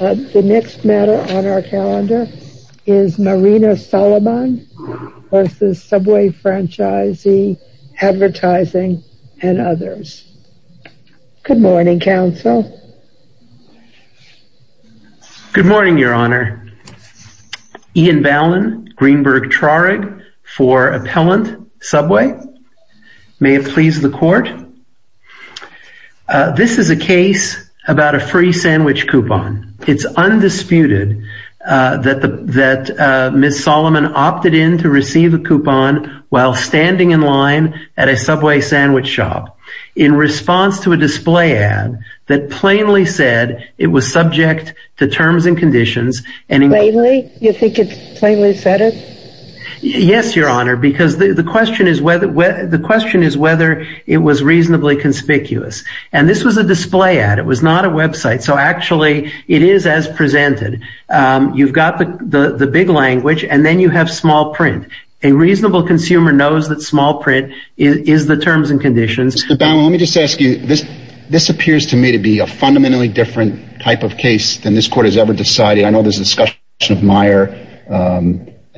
The next matter on our calendar is Marina Solomon versus Subway Franchisee Advertising and others. Good morning, counsel. Good morning, your honor. Ian Ballin, Greenberg-Trarig for Appellant Subway. May it please the court? This is a case about a free sandwich coupon. It's undisputed that Ms. Solomon opted in to receive a coupon while standing in line at a Subway sandwich shop in response to a display ad that plainly said it was subject to terms and conditions. Plainly? You think it plainly said it? Yes, your honor, because the question is whether it was reasonably conspicuous. And this was a display ad. It was not a website. So actually, it is as presented. You've got the big language and then you have small print. A reasonable consumer knows that small print is the terms and conditions. Mr. Ballin, let me just ask you, this appears to me to be a fundamentally different type of case than this court has ever decided. I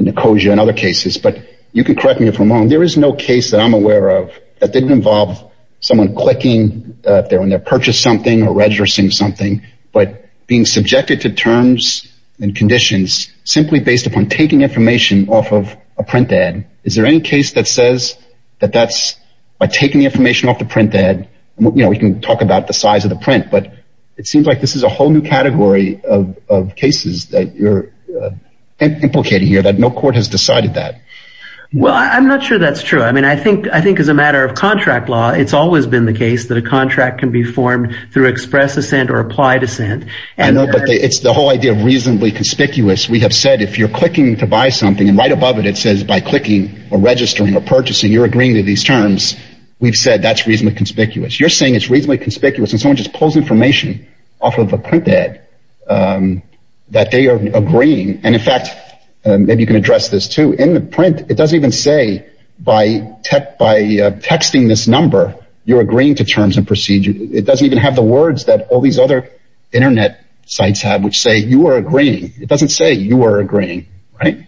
and Nicosia and other cases, but you can correct me if I'm wrong. There is no case that I'm aware of that didn't involve someone clicking when they purchase something or registering something, but being subjected to terms and conditions simply based upon taking information off of a print ad. Is there any case that says that that's by taking the information off the print ad, you know, we can talk about the size of the print, but it seems like this is a whole new category of here that no court has decided that. Well, I'm not sure that's true. I mean, I think I think as a matter of contract law, it's always been the case that a contract can be formed through express assent or applied assent. I know, but it's the whole idea of reasonably conspicuous. We have said if you're clicking to buy something and right above it, it says by clicking or registering or purchasing, you're agreeing to these terms. We've said that's reasonably conspicuous. You're saying it's reasonably conspicuous and someone just pulls information off of a print ad that they are agreeing. And in fact, maybe you can address this, too, in the print. It doesn't even say by text, by texting this number, you're agreeing to terms and procedures. It doesn't even have the words that all these other Internet sites have, which say you are agreeing. It doesn't say you are agreeing. Right.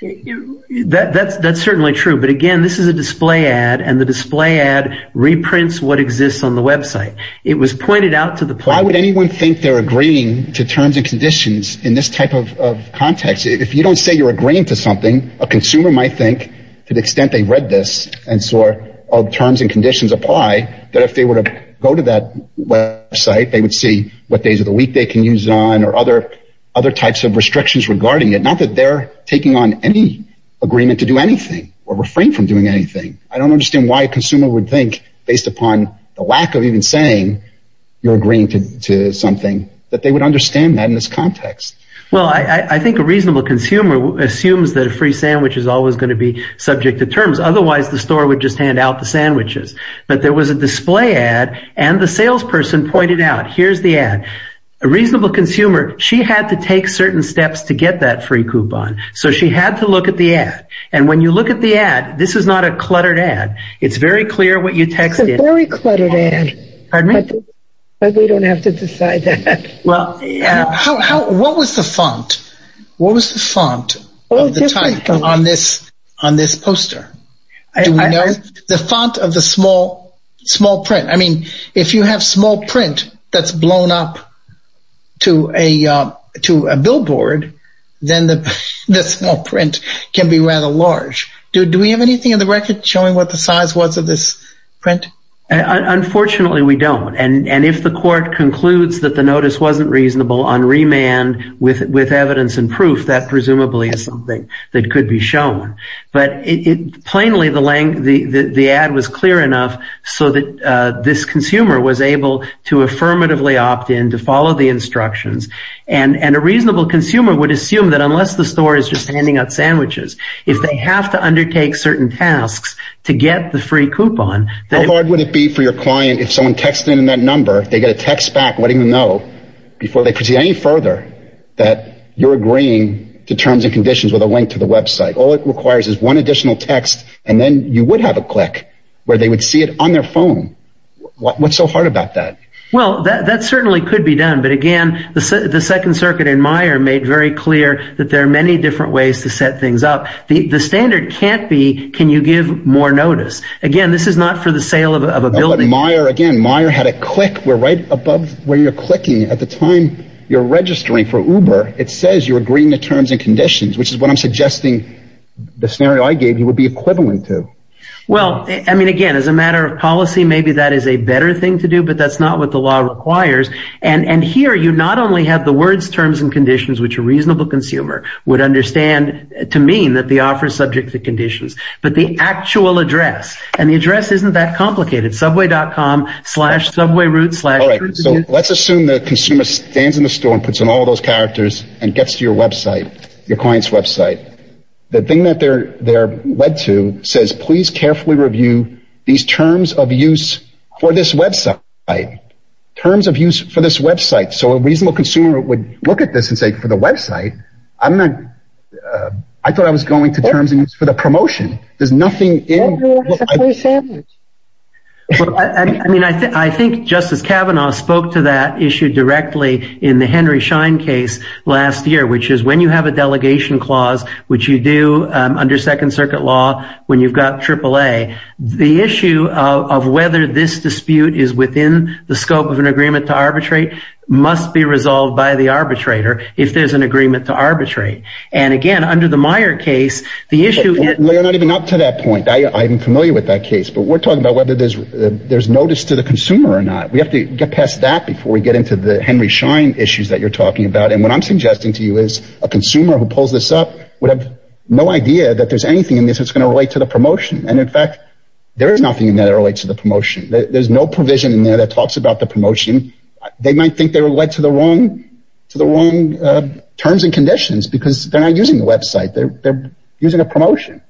That's that's certainly true. But again, this is a display ad and the display ad reprints what exists on the Web site. It was pointed out to the. Why would anyone think they're agreeing to terms and conditions in this type of context? If you don't say you're agreeing to something, a consumer might think to the extent they read this and saw all the terms and conditions apply, that if they were to go to that website, they would see what days of the week they can use on or other other types of restrictions regarding it, not that they're taking on any agreement to do anything or refrain from doing anything. I don't understand why a consumer would think based upon the lack of even saying you're agreeing to something that they would understand that in this context. Well, I think a reasonable consumer assumes that a free sandwich is always going to be subject to terms. Otherwise, the store would just hand out the sandwiches. But there was a display ad and the salesperson pointed out, here's the ad, a reasonable consumer. She had to take certain steps to get that free coupon. So she had to look at the ad. And when you look at the ad, this is not a cluttered ad. It's very clear what you texted. It's a very cluttered ad. Pardon me? But we don't have to decide that. Well, what was the font? What was the font of the type on this poster? Do we know? The font of the small print. I mean, if you have small print that's blown up to a billboard, then the small print can be rather large. Do we have anything in the record showing what the size was of this print? Unfortunately, we don't. And if the court concludes that the notice wasn't reasonable on remand with evidence and proof, that presumably is something that could be shown. But plainly, the ad was clear enough so that this consumer was able to affirmatively opt in, to follow the instructions. And a reasonable consumer would assume that unless the store is just handing out sandwiches, if they have to undertake certain tasks to get the free coupon... How hard would it be for your client if someone texted in that number, they get a text back letting them know before they proceed any further that you're agreeing to terms and conditions with a link to the website. All it requires is one additional text and then you would have a click where they would see it on their phone. What's so hard about that? Well, that certainly could be done. But again, the Second Circuit and Meijer made very clear that there are many different ways to set things up. The standard can't be, can you give more notice? Again, this is not for the sale of a building. Again, Meijer had a click where right above where you're clicking at the time you're registering for Uber, it says you're agreeing to terms and conditions, which is what I'm suggesting the scenario I gave you would be equivalent to. Well, I mean, again, as a matter of policy, maybe that is a better thing to do, but that's not what the law requires. And here you not only have the words terms and conditions, which a reasonable consumer would understand to mean that the offer is subject to conditions, but the actual address. And the address isn't that complicated. Subway.com slash subway route slash... All right. So let's assume the consumer stands in the store and puts in all those characters and gets to your website, your client's website. The thing that they're led to says, please carefully review these terms of use for this website. Terms of use for this website. So a reasonable consumer would look at this and say, for the website, I'm not... I thought I was going to terms and conditions for the promotion. There's nothing in... Everyone is a free sandwich. I mean, I think Justice Kavanaugh spoke to that issue directly in the Henry Schein case, last year, which is when you have a delegation clause, which you do under second circuit law, when you've got triple A, the issue of whether this dispute is within the scope of an agreement to arbitrate must be resolved by the arbitrator if there's an agreement to arbitrate. And again, under the Meyer case, the issue... We're not even up to that point. I'm familiar with that case, but we're talking about whether there's notice to the consumer or not. We have to get past that before we get into the Henry Schein issues that you're talking about. What I'm suggesting to you is a consumer who pulls this up would have no idea that there's anything in this that's going to relate to the promotion. In fact, there is nothing in there that relates to the promotion. There's no provision in there that talks about the promotion. They might think they were led to the wrong terms and conditions because they're not using the website. They're using a promotion.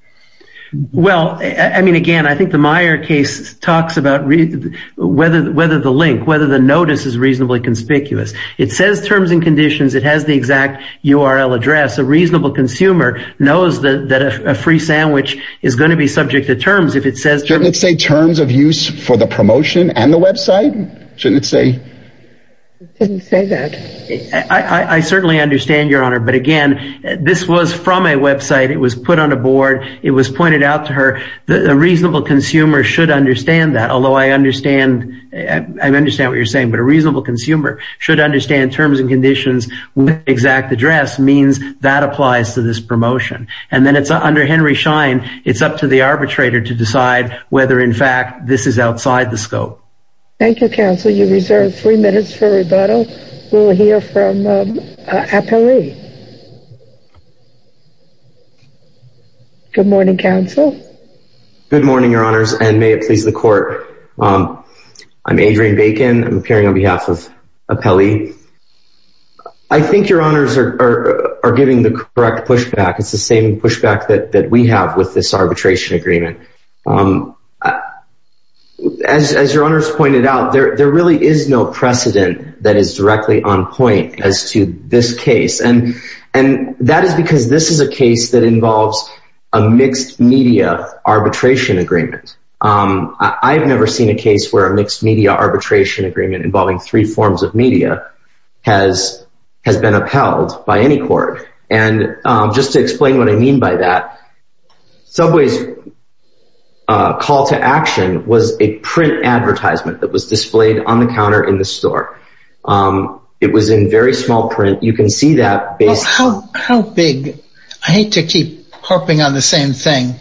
Well, I mean, again, I think the Meyer case talks about whether the link, whether the notice is reasonably conspicuous. It says terms and conditions. It has the exact URL address. A reasonable consumer knows that a free sandwich is going to be subject to terms if it says... Shouldn't it say terms of use for the promotion and the website? Shouldn't it say? It didn't say that. I certainly understand, Your Honor. But again, this was from a website. It was put on a board. It was pointed out to her. A reasonable consumer should understand that, although I understand what you're saying. But a reasonable consumer should understand terms and conditions with exact address means that applies to this promotion. And then it's under Henry Schein. It's up to the arbitrator to decide whether, in fact, this is outside the scope. Thank you, counsel. You reserve three minutes for rebuttal. We'll hear from Apare. Good morning, counsel. Good morning, Your Honors, and may it please the court. I'm Adrian Bacon. I'm appearing on appellee. I think Your Honors are giving the correct pushback. It's the same pushback that we have with this arbitration agreement. As Your Honors pointed out, there really is no precedent that is directly on point as to this case. And that is because this is a case that involves a mixed media arbitration agreement. I've never seen a case where a mixed media arbitration agreement involving three forms of media has been upheld by any court. And just to explain what I mean by that, Subway's call to action was a print advertisement that was displayed on the counter in the store. It was in very small print. You can see that. How big? I hate to keep harping on the same thing.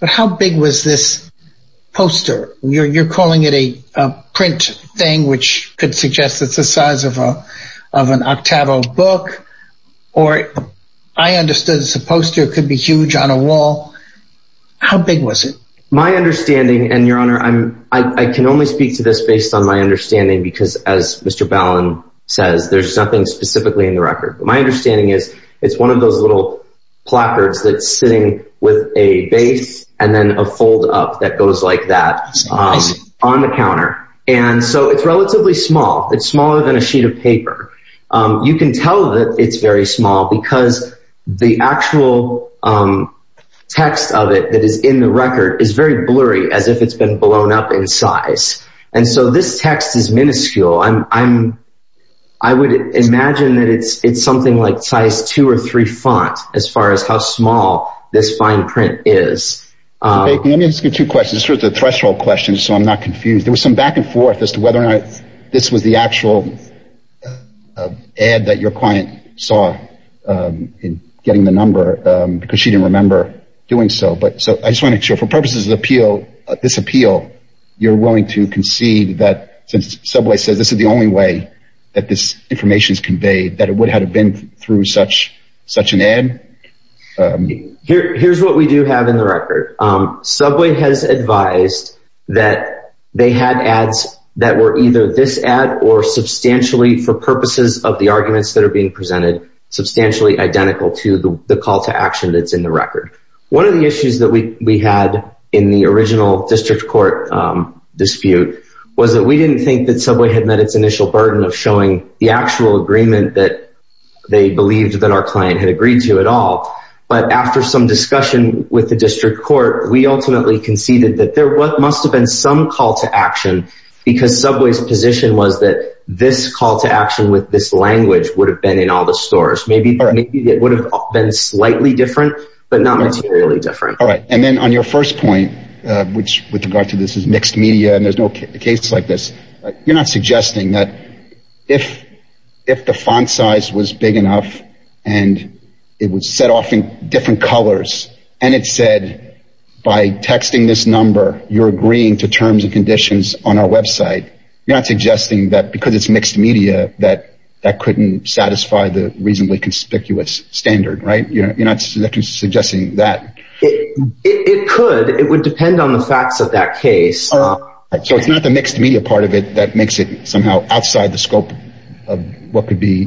But how big was this poster? You're calling it a print thing, which could suggest it's the size of an Octavo book. Or I understood it's a poster. It could be huge on a wall. How big was it? My understanding, and Your Honor, I can only speak to this based on my understanding, because as Mr. Ballin says, there's nothing specifically in the record. But my understanding is it's one of those little placards that's sitting with a base and a fold up that goes like that on the counter. And so it's relatively small. It's smaller than a sheet of paper. You can tell that it's very small because the actual text of it that is in the record is very blurry, as if it's been blown up in size. And so this text is minuscule. I would imagine that it's something like size two or three font, as far as how small this fine print is. Mr. Bacon, let me ask you two questions. This is sort of a threshold question, so I'm not confused. There was some back and forth as to whether or not this was the actual ad that your client saw in getting the number, because she didn't remember doing so. But I just want to make sure, for purposes of this appeal, you're willing to concede that, since Subway says this is the way that this information is conveyed, that it would have been through such an ad? Here's what we do have in the record. Subway has advised that they had ads that were either this ad or substantially, for purposes of the arguments that are being presented, substantially identical to the call to action that's in the record. One of the issues that we had in the original court dispute was that we didn't think that Subway had met its initial burden of showing the actual agreement that they believed that our client had agreed to at all. But after some discussion with the district court, we ultimately conceded that there must have been some call to action, because Subway's position was that this call to action with this language would have been in all the stores. Maybe it would have been slightly different, but not materially different. All right. And then on your first point, with regard to this as mixed media, and there's no cases like this, you're not suggesting that if the font size was big enough, and it was set off in different colors, and it said, by texting this number, you're agreeing to terms and conditions on our website, you're not suggesting that, because it's mixed media, that that couldn't satisfy the reasonably conspicuous standard, right? You're not suggesting that. It could. It would depend on the facts of that case. So it's not the mixed media part of it that makes it somehow outside the scope of what could be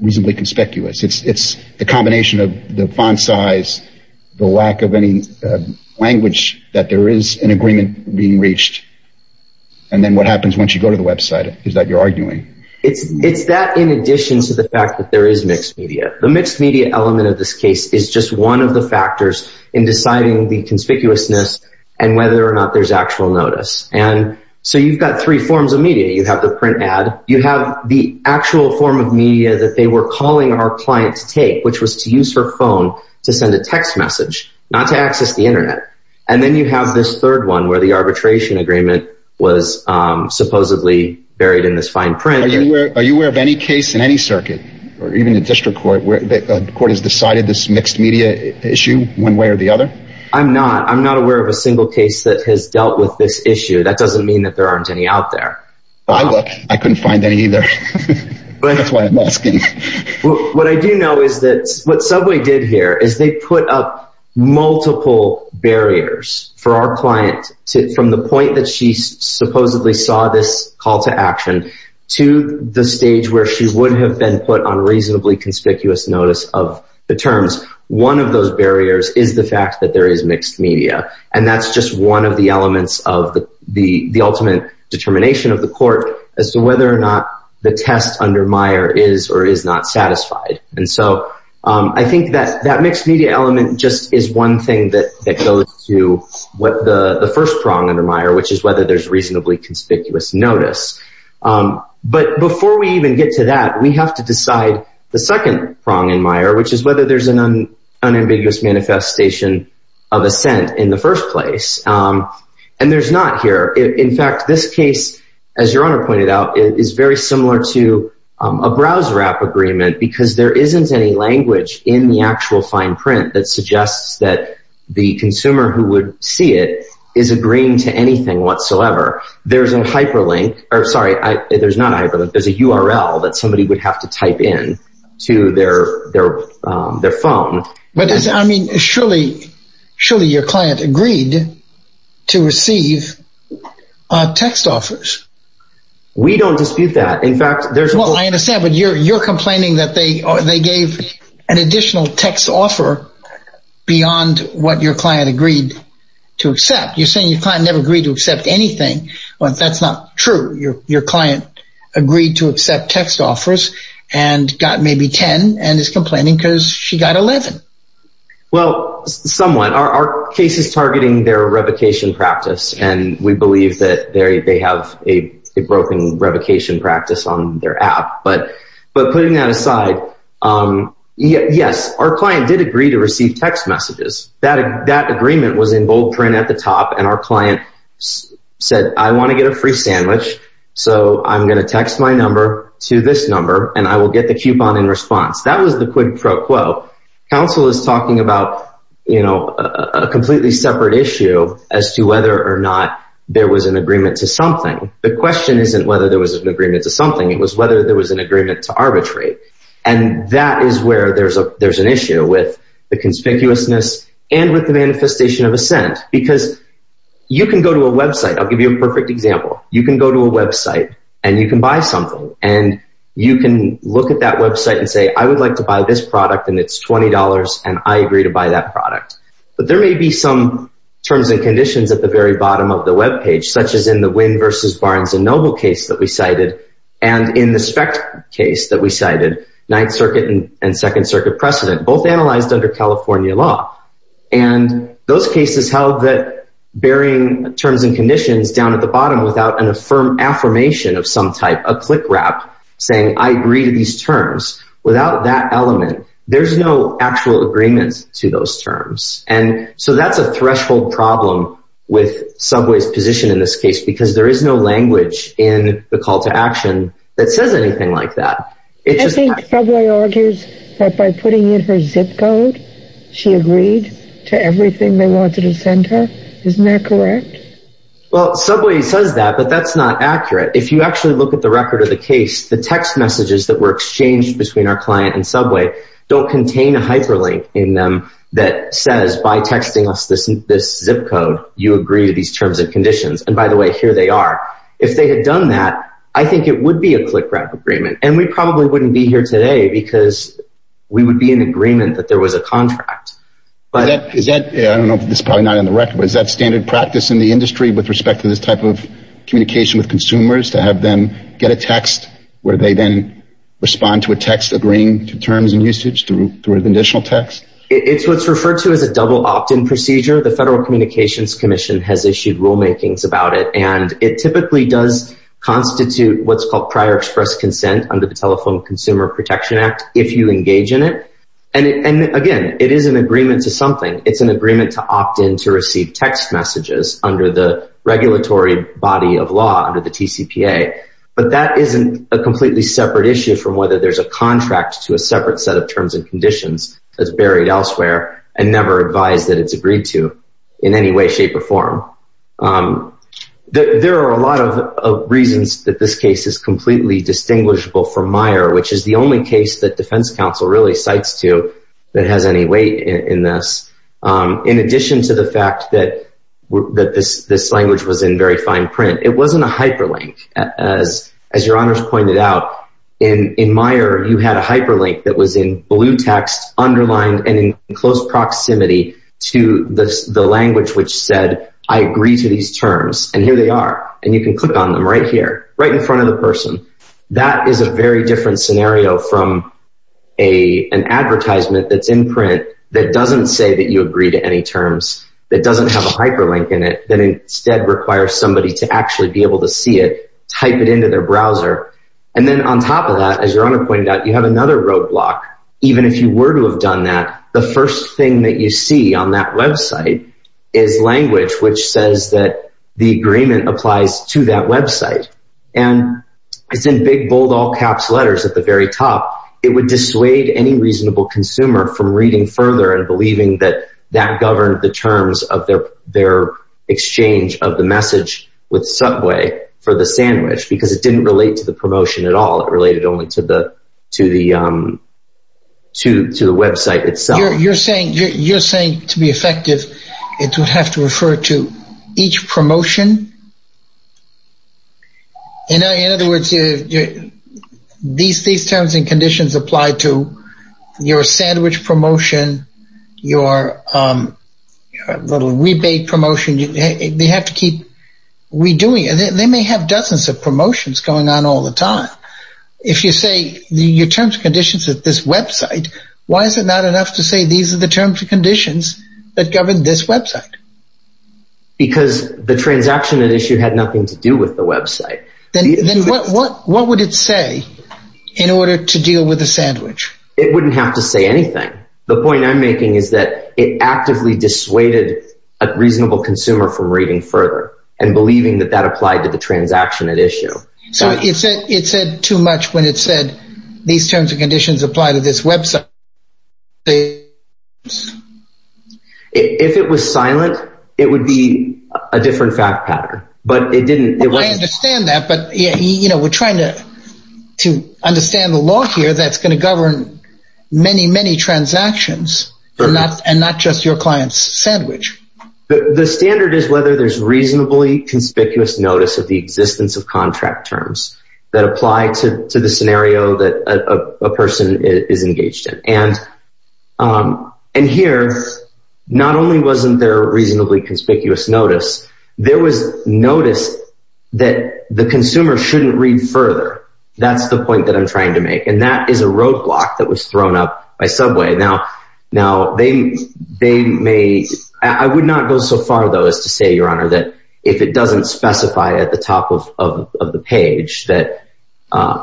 reasonably conspicuous. It's the combination of the font size, the lack of any language that there is an agreement being reached. And then what happens once you go to the website is that you're The mixed media element of this case is just one of the factors in deciding the conspicuousness, and whether or not there's actual notice. And so you've got three forms of media. You have the print ad, you have the actual form of media that they were calling our client to take, which was to use her phone to send a text message, not to access the internet. And then you have this third one where the arbitration agreement was supposedly buried in this fine print. Are you aware of any case in any circuit, or even the district court where the court has decided this mixed media issue one way or the other? I'm not. I'm not aware of a single case that has dealt with this issue. That doesn't mean that there aren't any out there. I couldn't find any either. That's why I'm asking. What I do know is that what Subway did here is they put up multiple barriers for our client from the point that she supposedly saw this call to action to the stage where she would have been put on reasonably conspicuous notice of the terms. One of those barriers is the fact that there is mixed media. And that's just one of the elements of the ultimate determination of the court as to whether or not the test under Meyer is or is not satisfied. And so I think that mixed media element just is one thing that goes to the first prong under Meyer, which is whether there's reasonably conspicuous notice. But before we even get to that, we have to decide the second prong in Meyer, which is whether there's an unambiguous manifestation of assent in the first place. And there's not here. In fact, this case, as Your Honor pointed out, is very similar to a browser app agreement because there isn't any language in the actual fine print that suggests that the consumer who would see it is agreeing to anything whatsoever. There's a hyperlink, or sorry, there's not a hyperlink. There's a URL that somebody would have to type in to their phone. But I mean, surely your client agreed to receive text offers. We don't dispute that. In fact, there's one I understand, but you're complaining that they gave an additional text offer beyond what your client agreed to accept. You're saying your client never agreed to accept anything. That's not true. Your client agreed to accept text offers and got maybe 10 and is complaining because she got 11. Well, somewhat. Our case is we believe that they have a broken revocation practice on their app. But putting that aside, yes, our client did agree to receive text messages. That agreement was in bold print at the top, and our client said, I want to get a free sandwich, so I'm going to text my number to this number, and I will get the coupon in response. That was the quid pro quo. Counsel is talking about a completely separate issue as to whether or not there was an agreement to something. The question isn't whether there was an agreement to something. It was whether there was an agreement to arbitrate, and that is where there's an issue with the conspicuousness and with the manifestation of assent because you can go to a website. I'll give you a perfect example. You can go to a website and you can buy something, and you can look at that website and say, I would like to buy this and I agree to buy that product. But there may be some terms and conditions at the very bottom of the web page, such as in the Wynn versus Barnes and Noble case that we cited, and in the SPECT case that we cited, Ninth Circuit and Second Circuit precedent, both analyzed under California law. And those cases held that bearing terms and conditions down at the bottom without an affirmation of some type, a click wrap saying, I agree to these terms. Without that element, there's no actual agreement to those terms. And so that's a threshold problem with Subway's position in this case because there is no language in the call to action that says anything like that. I think Subway argues that by putting in her zip code, she agreed to everything they wanted to send her. Isn't that correct? Well, Subway says that, but that's not accurate. If you actually look at the record of the case, the text messages that were exchanged between our client and Subway don't contain a hyperlink in them that says, by texting us this zip code, you agree to these terms and conditions. And by the way, here they are. If they had done that, I think it would be a click wrap agreement. And we probably wouldn't be here today because we would be in agreement that there was a standard practice in the industry with respect to this type of communication with consumers to have them get a text where they then respond to a text agreeing to terms and usage through an additional text. It's what's referred to as a double opt-in procedure. The Federal Communications Commission has issued rulemakings about it, and it typically does constitute what's called prior express consent under the Telephone Consumer Protection Act if you engage in it. And again, it is an agreement to opt in to receive text messages under the regulatory body of law under the TCPA. But that isn't a completely separate issue from whether there's a contract to a separate set of terms and conditions that's buried elsewhere and never advised that it's agreed to in any way, shape, or form. There are a lot of reasons that this case is completely distinguishable from Meyer, which is the only case that Defense Counsel really cites to that has any weight in this. In addition to the fact that this language was in very fine print, it wasn't a hyperlink. As your honors pointed out, in Meyer, you had a hyperlink that was in blue text, underlined, and in close proximity to the language which said, I agree to these terms, and here they are. And you can click on them right here, right in front of the person. That is a very different scenario from an advertisement that's in print that doesn't say that you agree to any terms, that doesn't have a hyperlink in it, that instead requires somebody to actually be able to see it, type it into their browser. And then on top of that, as your honor pointed out, you have another roadblock. Even if you were to have done that, the first thing that you see on that website is language which says that the agreement applies to that website. And it's in big, bold, all-caps letters at the very top. It would dissuade any reasonable consumer from reading further and believing that that governed the terms of their exchange of the message with Subway for the sandwich, because it didn't relate to the promotion at all. It related only to the website itself. You're saying to be effective, it would have to refer to each promotion? In other words, these terms and conditions apply to your sandwich promotion, your little rebate promotion. They have to keep redoing it. They may have dozens of promotions going on all the time. If you say your terms and conditions at this website, why is it not enough to say these are the terms and conditions that govern this website? Because the transaction at issue had nothing to do with the website. Then what would it say in order to deal with the sandwich? It wouldn't have to say anything. The point I'm making is that it actively dissuaded a reasonable consumer from reading further and believing that that applied to the transaction at issue. So it said too much when it said these terms and conditions apply to this website. If it was silent, it would be a different fact pattern, but it didn't. I understand that, but we're trying to understand the law here that's going to govern many, many transactions and not just your client's sandwich. The standard is whether there's reasonably conspicuous notice of the existence of contract terms that apply to the scenario that a person is engaged in. Here, not only wasn't there reasonably conspicuous notice, there was notice that the consumer shouldn't read further. That's the point that I'm trying to make, and that is a roadblock that was thrown up by Subway. I would not go so far, though, as to say, Your Honor, that if it doesn't specify at the top of the page that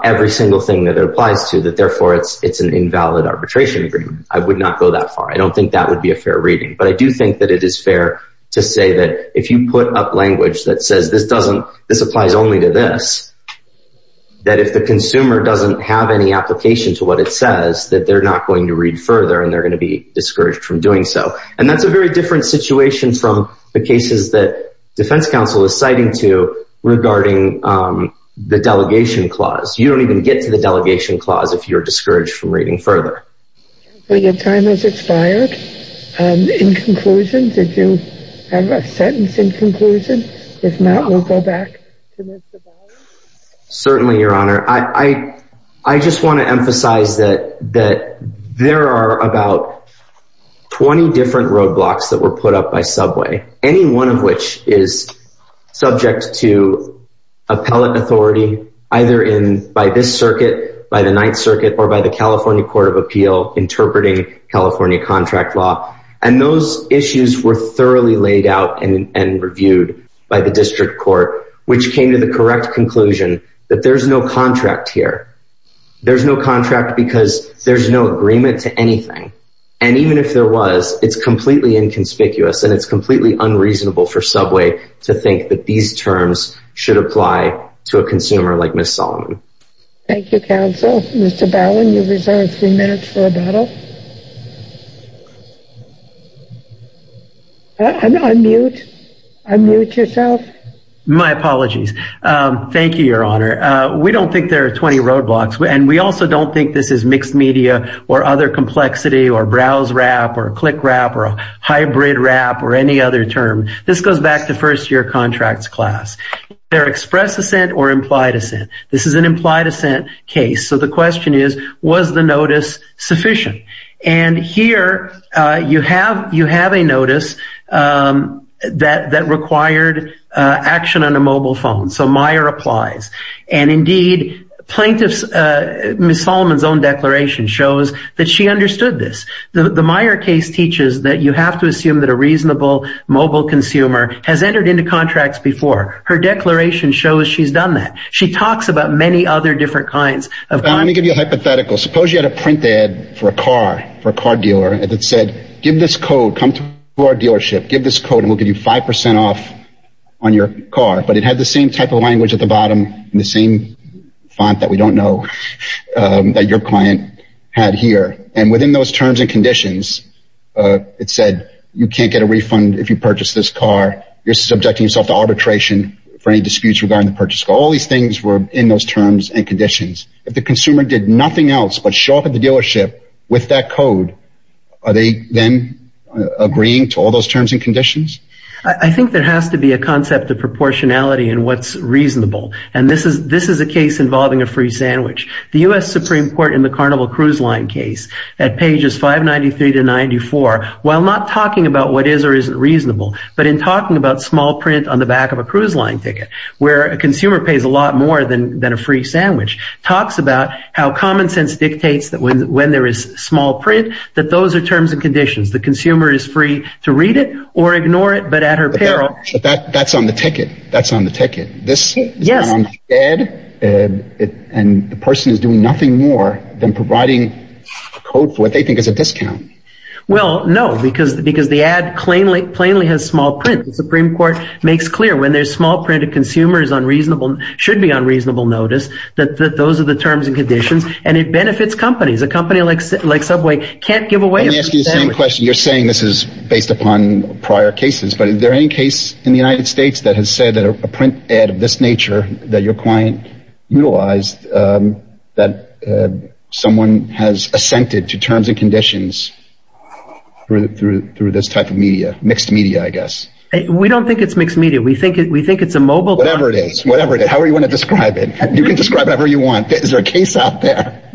every single thing that it applies to, that therefore it's an invalid arbitration agreement. I would not go that far. I don't think that would be a fair reading, but I do think that it is fair to say that if you put up language that says this applies only to this, that if the consumer doesn't have any application to what it says, that they're not going to read further and they're going to be discouraged from doing so. And that's a very different situation from the cases that defense counsel is citing to regarding the delegation clause. You don't even get to the delegation clause if you're discouraged from reading further. I think your time has expired. In conclusion, did you have a sentence in conclusion? If not, we'll go back to Mr. Biles. Certainly, Your Honor. I just want to emphasize that there are about 20 different roadblocks that were put up by Subway, any one of which is subject to appellate authority either by this circuit, by the Ninth Circuit, or by the California Court of Appeal interpreting California contract law. And those issues were thoroughly laid out and reviewed by the district court, which came to the correct conclusion that there's no contract here. There's no contract because there's no agreement to anything. And even if there was, it's completely inconspicuous, and it's completely unreasonable for Subway to think that these terms should apply to a consumer like Ms. Solomon. Thank you, counsel. Mr. Bowen, you reserve three minutes for rebuttal. Unmute. Unmute yourself. My apologies. Thank you, Your Honor. We don't think there are 20 roadblocks, and we also don't think this is mixed media, or other complexity, or browse wrap, or click wrap, or hybrid wrap, or any other term. This goes back to first year contracts class. They're express assent or implied assent. This is an implied assent case. So the question is, was the notice sufficient? And here, you have a notice that required action on a mobile phone. So Meyer applies. And indeed, plaintiff's Ms. Solomon's own declaration shows that she understood this. The Meyer case teaches that you have to assume that a reasonable mobile consumer has entered into contracts before. Her declaration shows she's done that. She talks about many other kinds. Let me give you a hypothetical. Suppose you had a print ad for a car dealer that said, give this code. Come to our dealership. Give this code, and we'll give you 5% off on your car. But it had the same type of language at the bottom, and the same font that we don't know that your client had here. And within those terms and conditions, it said, you can't get a refund if you purchase this car. You're subjecting yourself to arbitration for any disputes regarding the purchase. All these things were in those terms and conditions. If the consumer did nothing else but show up at the dealership with that code, are they then agreeing to all those terms and conditions? I think there has to be a concept of proportionality in what's reasonable. And this is a case involving a free sandwich. The US Supreme Court in the Carnival Cruise Line case, at pages 593 to 94, while not talking about what is or isn't reasonable, but in talking about small print on the back of a cruise line ticket, where a consumer pays a lot more than a free sandwich, talks about how common sense dictates that when there is small print, that those are terms and conditions. The consumer is free to read it or ignore it, but at her peril. But that's on the ticket. That's on the ticket. This is not on the ad, and the person is doing nothing more than providing a code for what they think is a discount. Well, no, because the ad plainly has small print. The Supreme Court makes clear when there's small print, a consumer should be on reasonable notice that those are the terms and conditions, and it benefits companies. A company like Subway can't give away a free sandwich. Let me ask you the same question. You're saying this is based upon prior cases, but is there any case in the United States that has said that a print ad of this nature that your client utilized, that someone has assented to terms and conditions through this type of media, mixed media, I guess? We don't think it's mixed media. We think it's a mobile... Whatever it is, whatever it is, however you want to describe it. You can describe it however you want. Is there a case out there?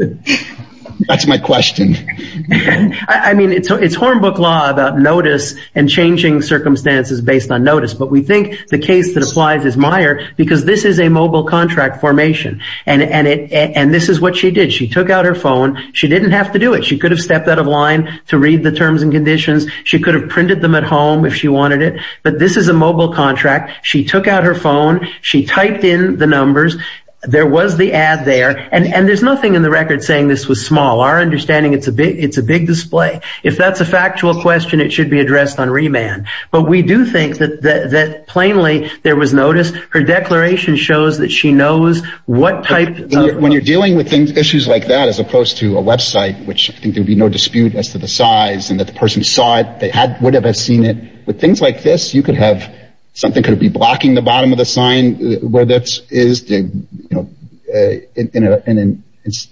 That's my question. I mean, it's hornbook law about notice and changing circumstances based on notice, but we think the case that applies is Meyer, because this is a mobile contract formation, and this is what she did. She took out her phone. She didn't have to do it. She could have stepped out of line to read the terms and conditions. She could have printed them at home if she wanted it, but this is a mobile contract. She took out her phone. She typed in the numbers. There was the ad there, and there's nothing in the record saying this was small. Our understanding, it's a big display. If that's a factual question, it should be addressed on remand, but we do think that plainly there was notice. Her declaration shows that she knows what type of... When you're dealing with issues like that, as opposed to a website, which I think there'd be no dispute as to the size and that the person saw it, they would have seen it. With things like this, you could have something could be blocking the bottom of the sign, where that is in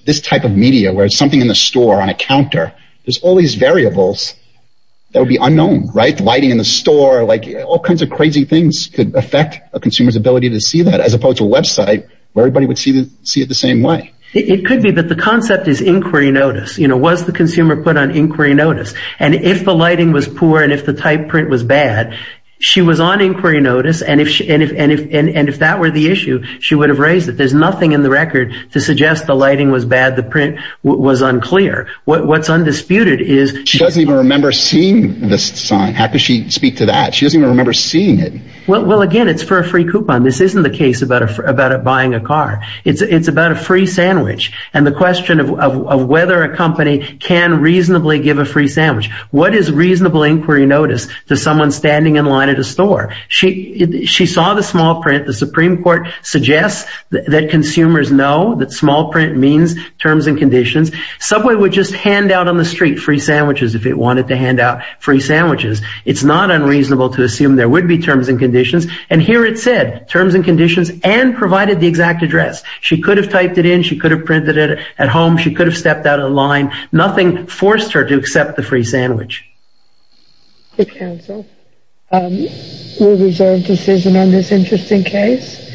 this type of media, where it's something in the store on a counter. There's all these variables that would unknown. Lighting in the store, all kinds of crazy things could affect a consumer's ability to see that, as opposed to a website where everybody would see it the same way. It could be that the concept is inquiry notice. Was the consumer put on inquiry notice? If the lighting was poor and if the type print was bad, she was on inquiry notice. If that were the issue, she would have raised it. There's nothing in the record to suggest the lighting was bad, the print was unclear. What's undisputed is... She doesn't even remember seeing this sign. How could she speak to that? She doesn't even remember seeing it. Again, it's for a free coupon. This isn't the case about buying a car. It's about a free sandwich and the question of whether a company can reasonably give a free sandwich. What is reasonable inquiry notice to someone standing in line at a store? She saw the small print. The Supreme Court suggests that consumers know that hand out on the street free sandwiches if they wanted to hand out free sandwiches. It's not unreasonable to assume there would be terms and conditions. And here it said terms and conditions and provided the exact address. She could have typed it in. She could have printed it at home. She could have stepped out of the line. Nothing forced her to accept the free sandwich. The council will reserve decision on this interesting case.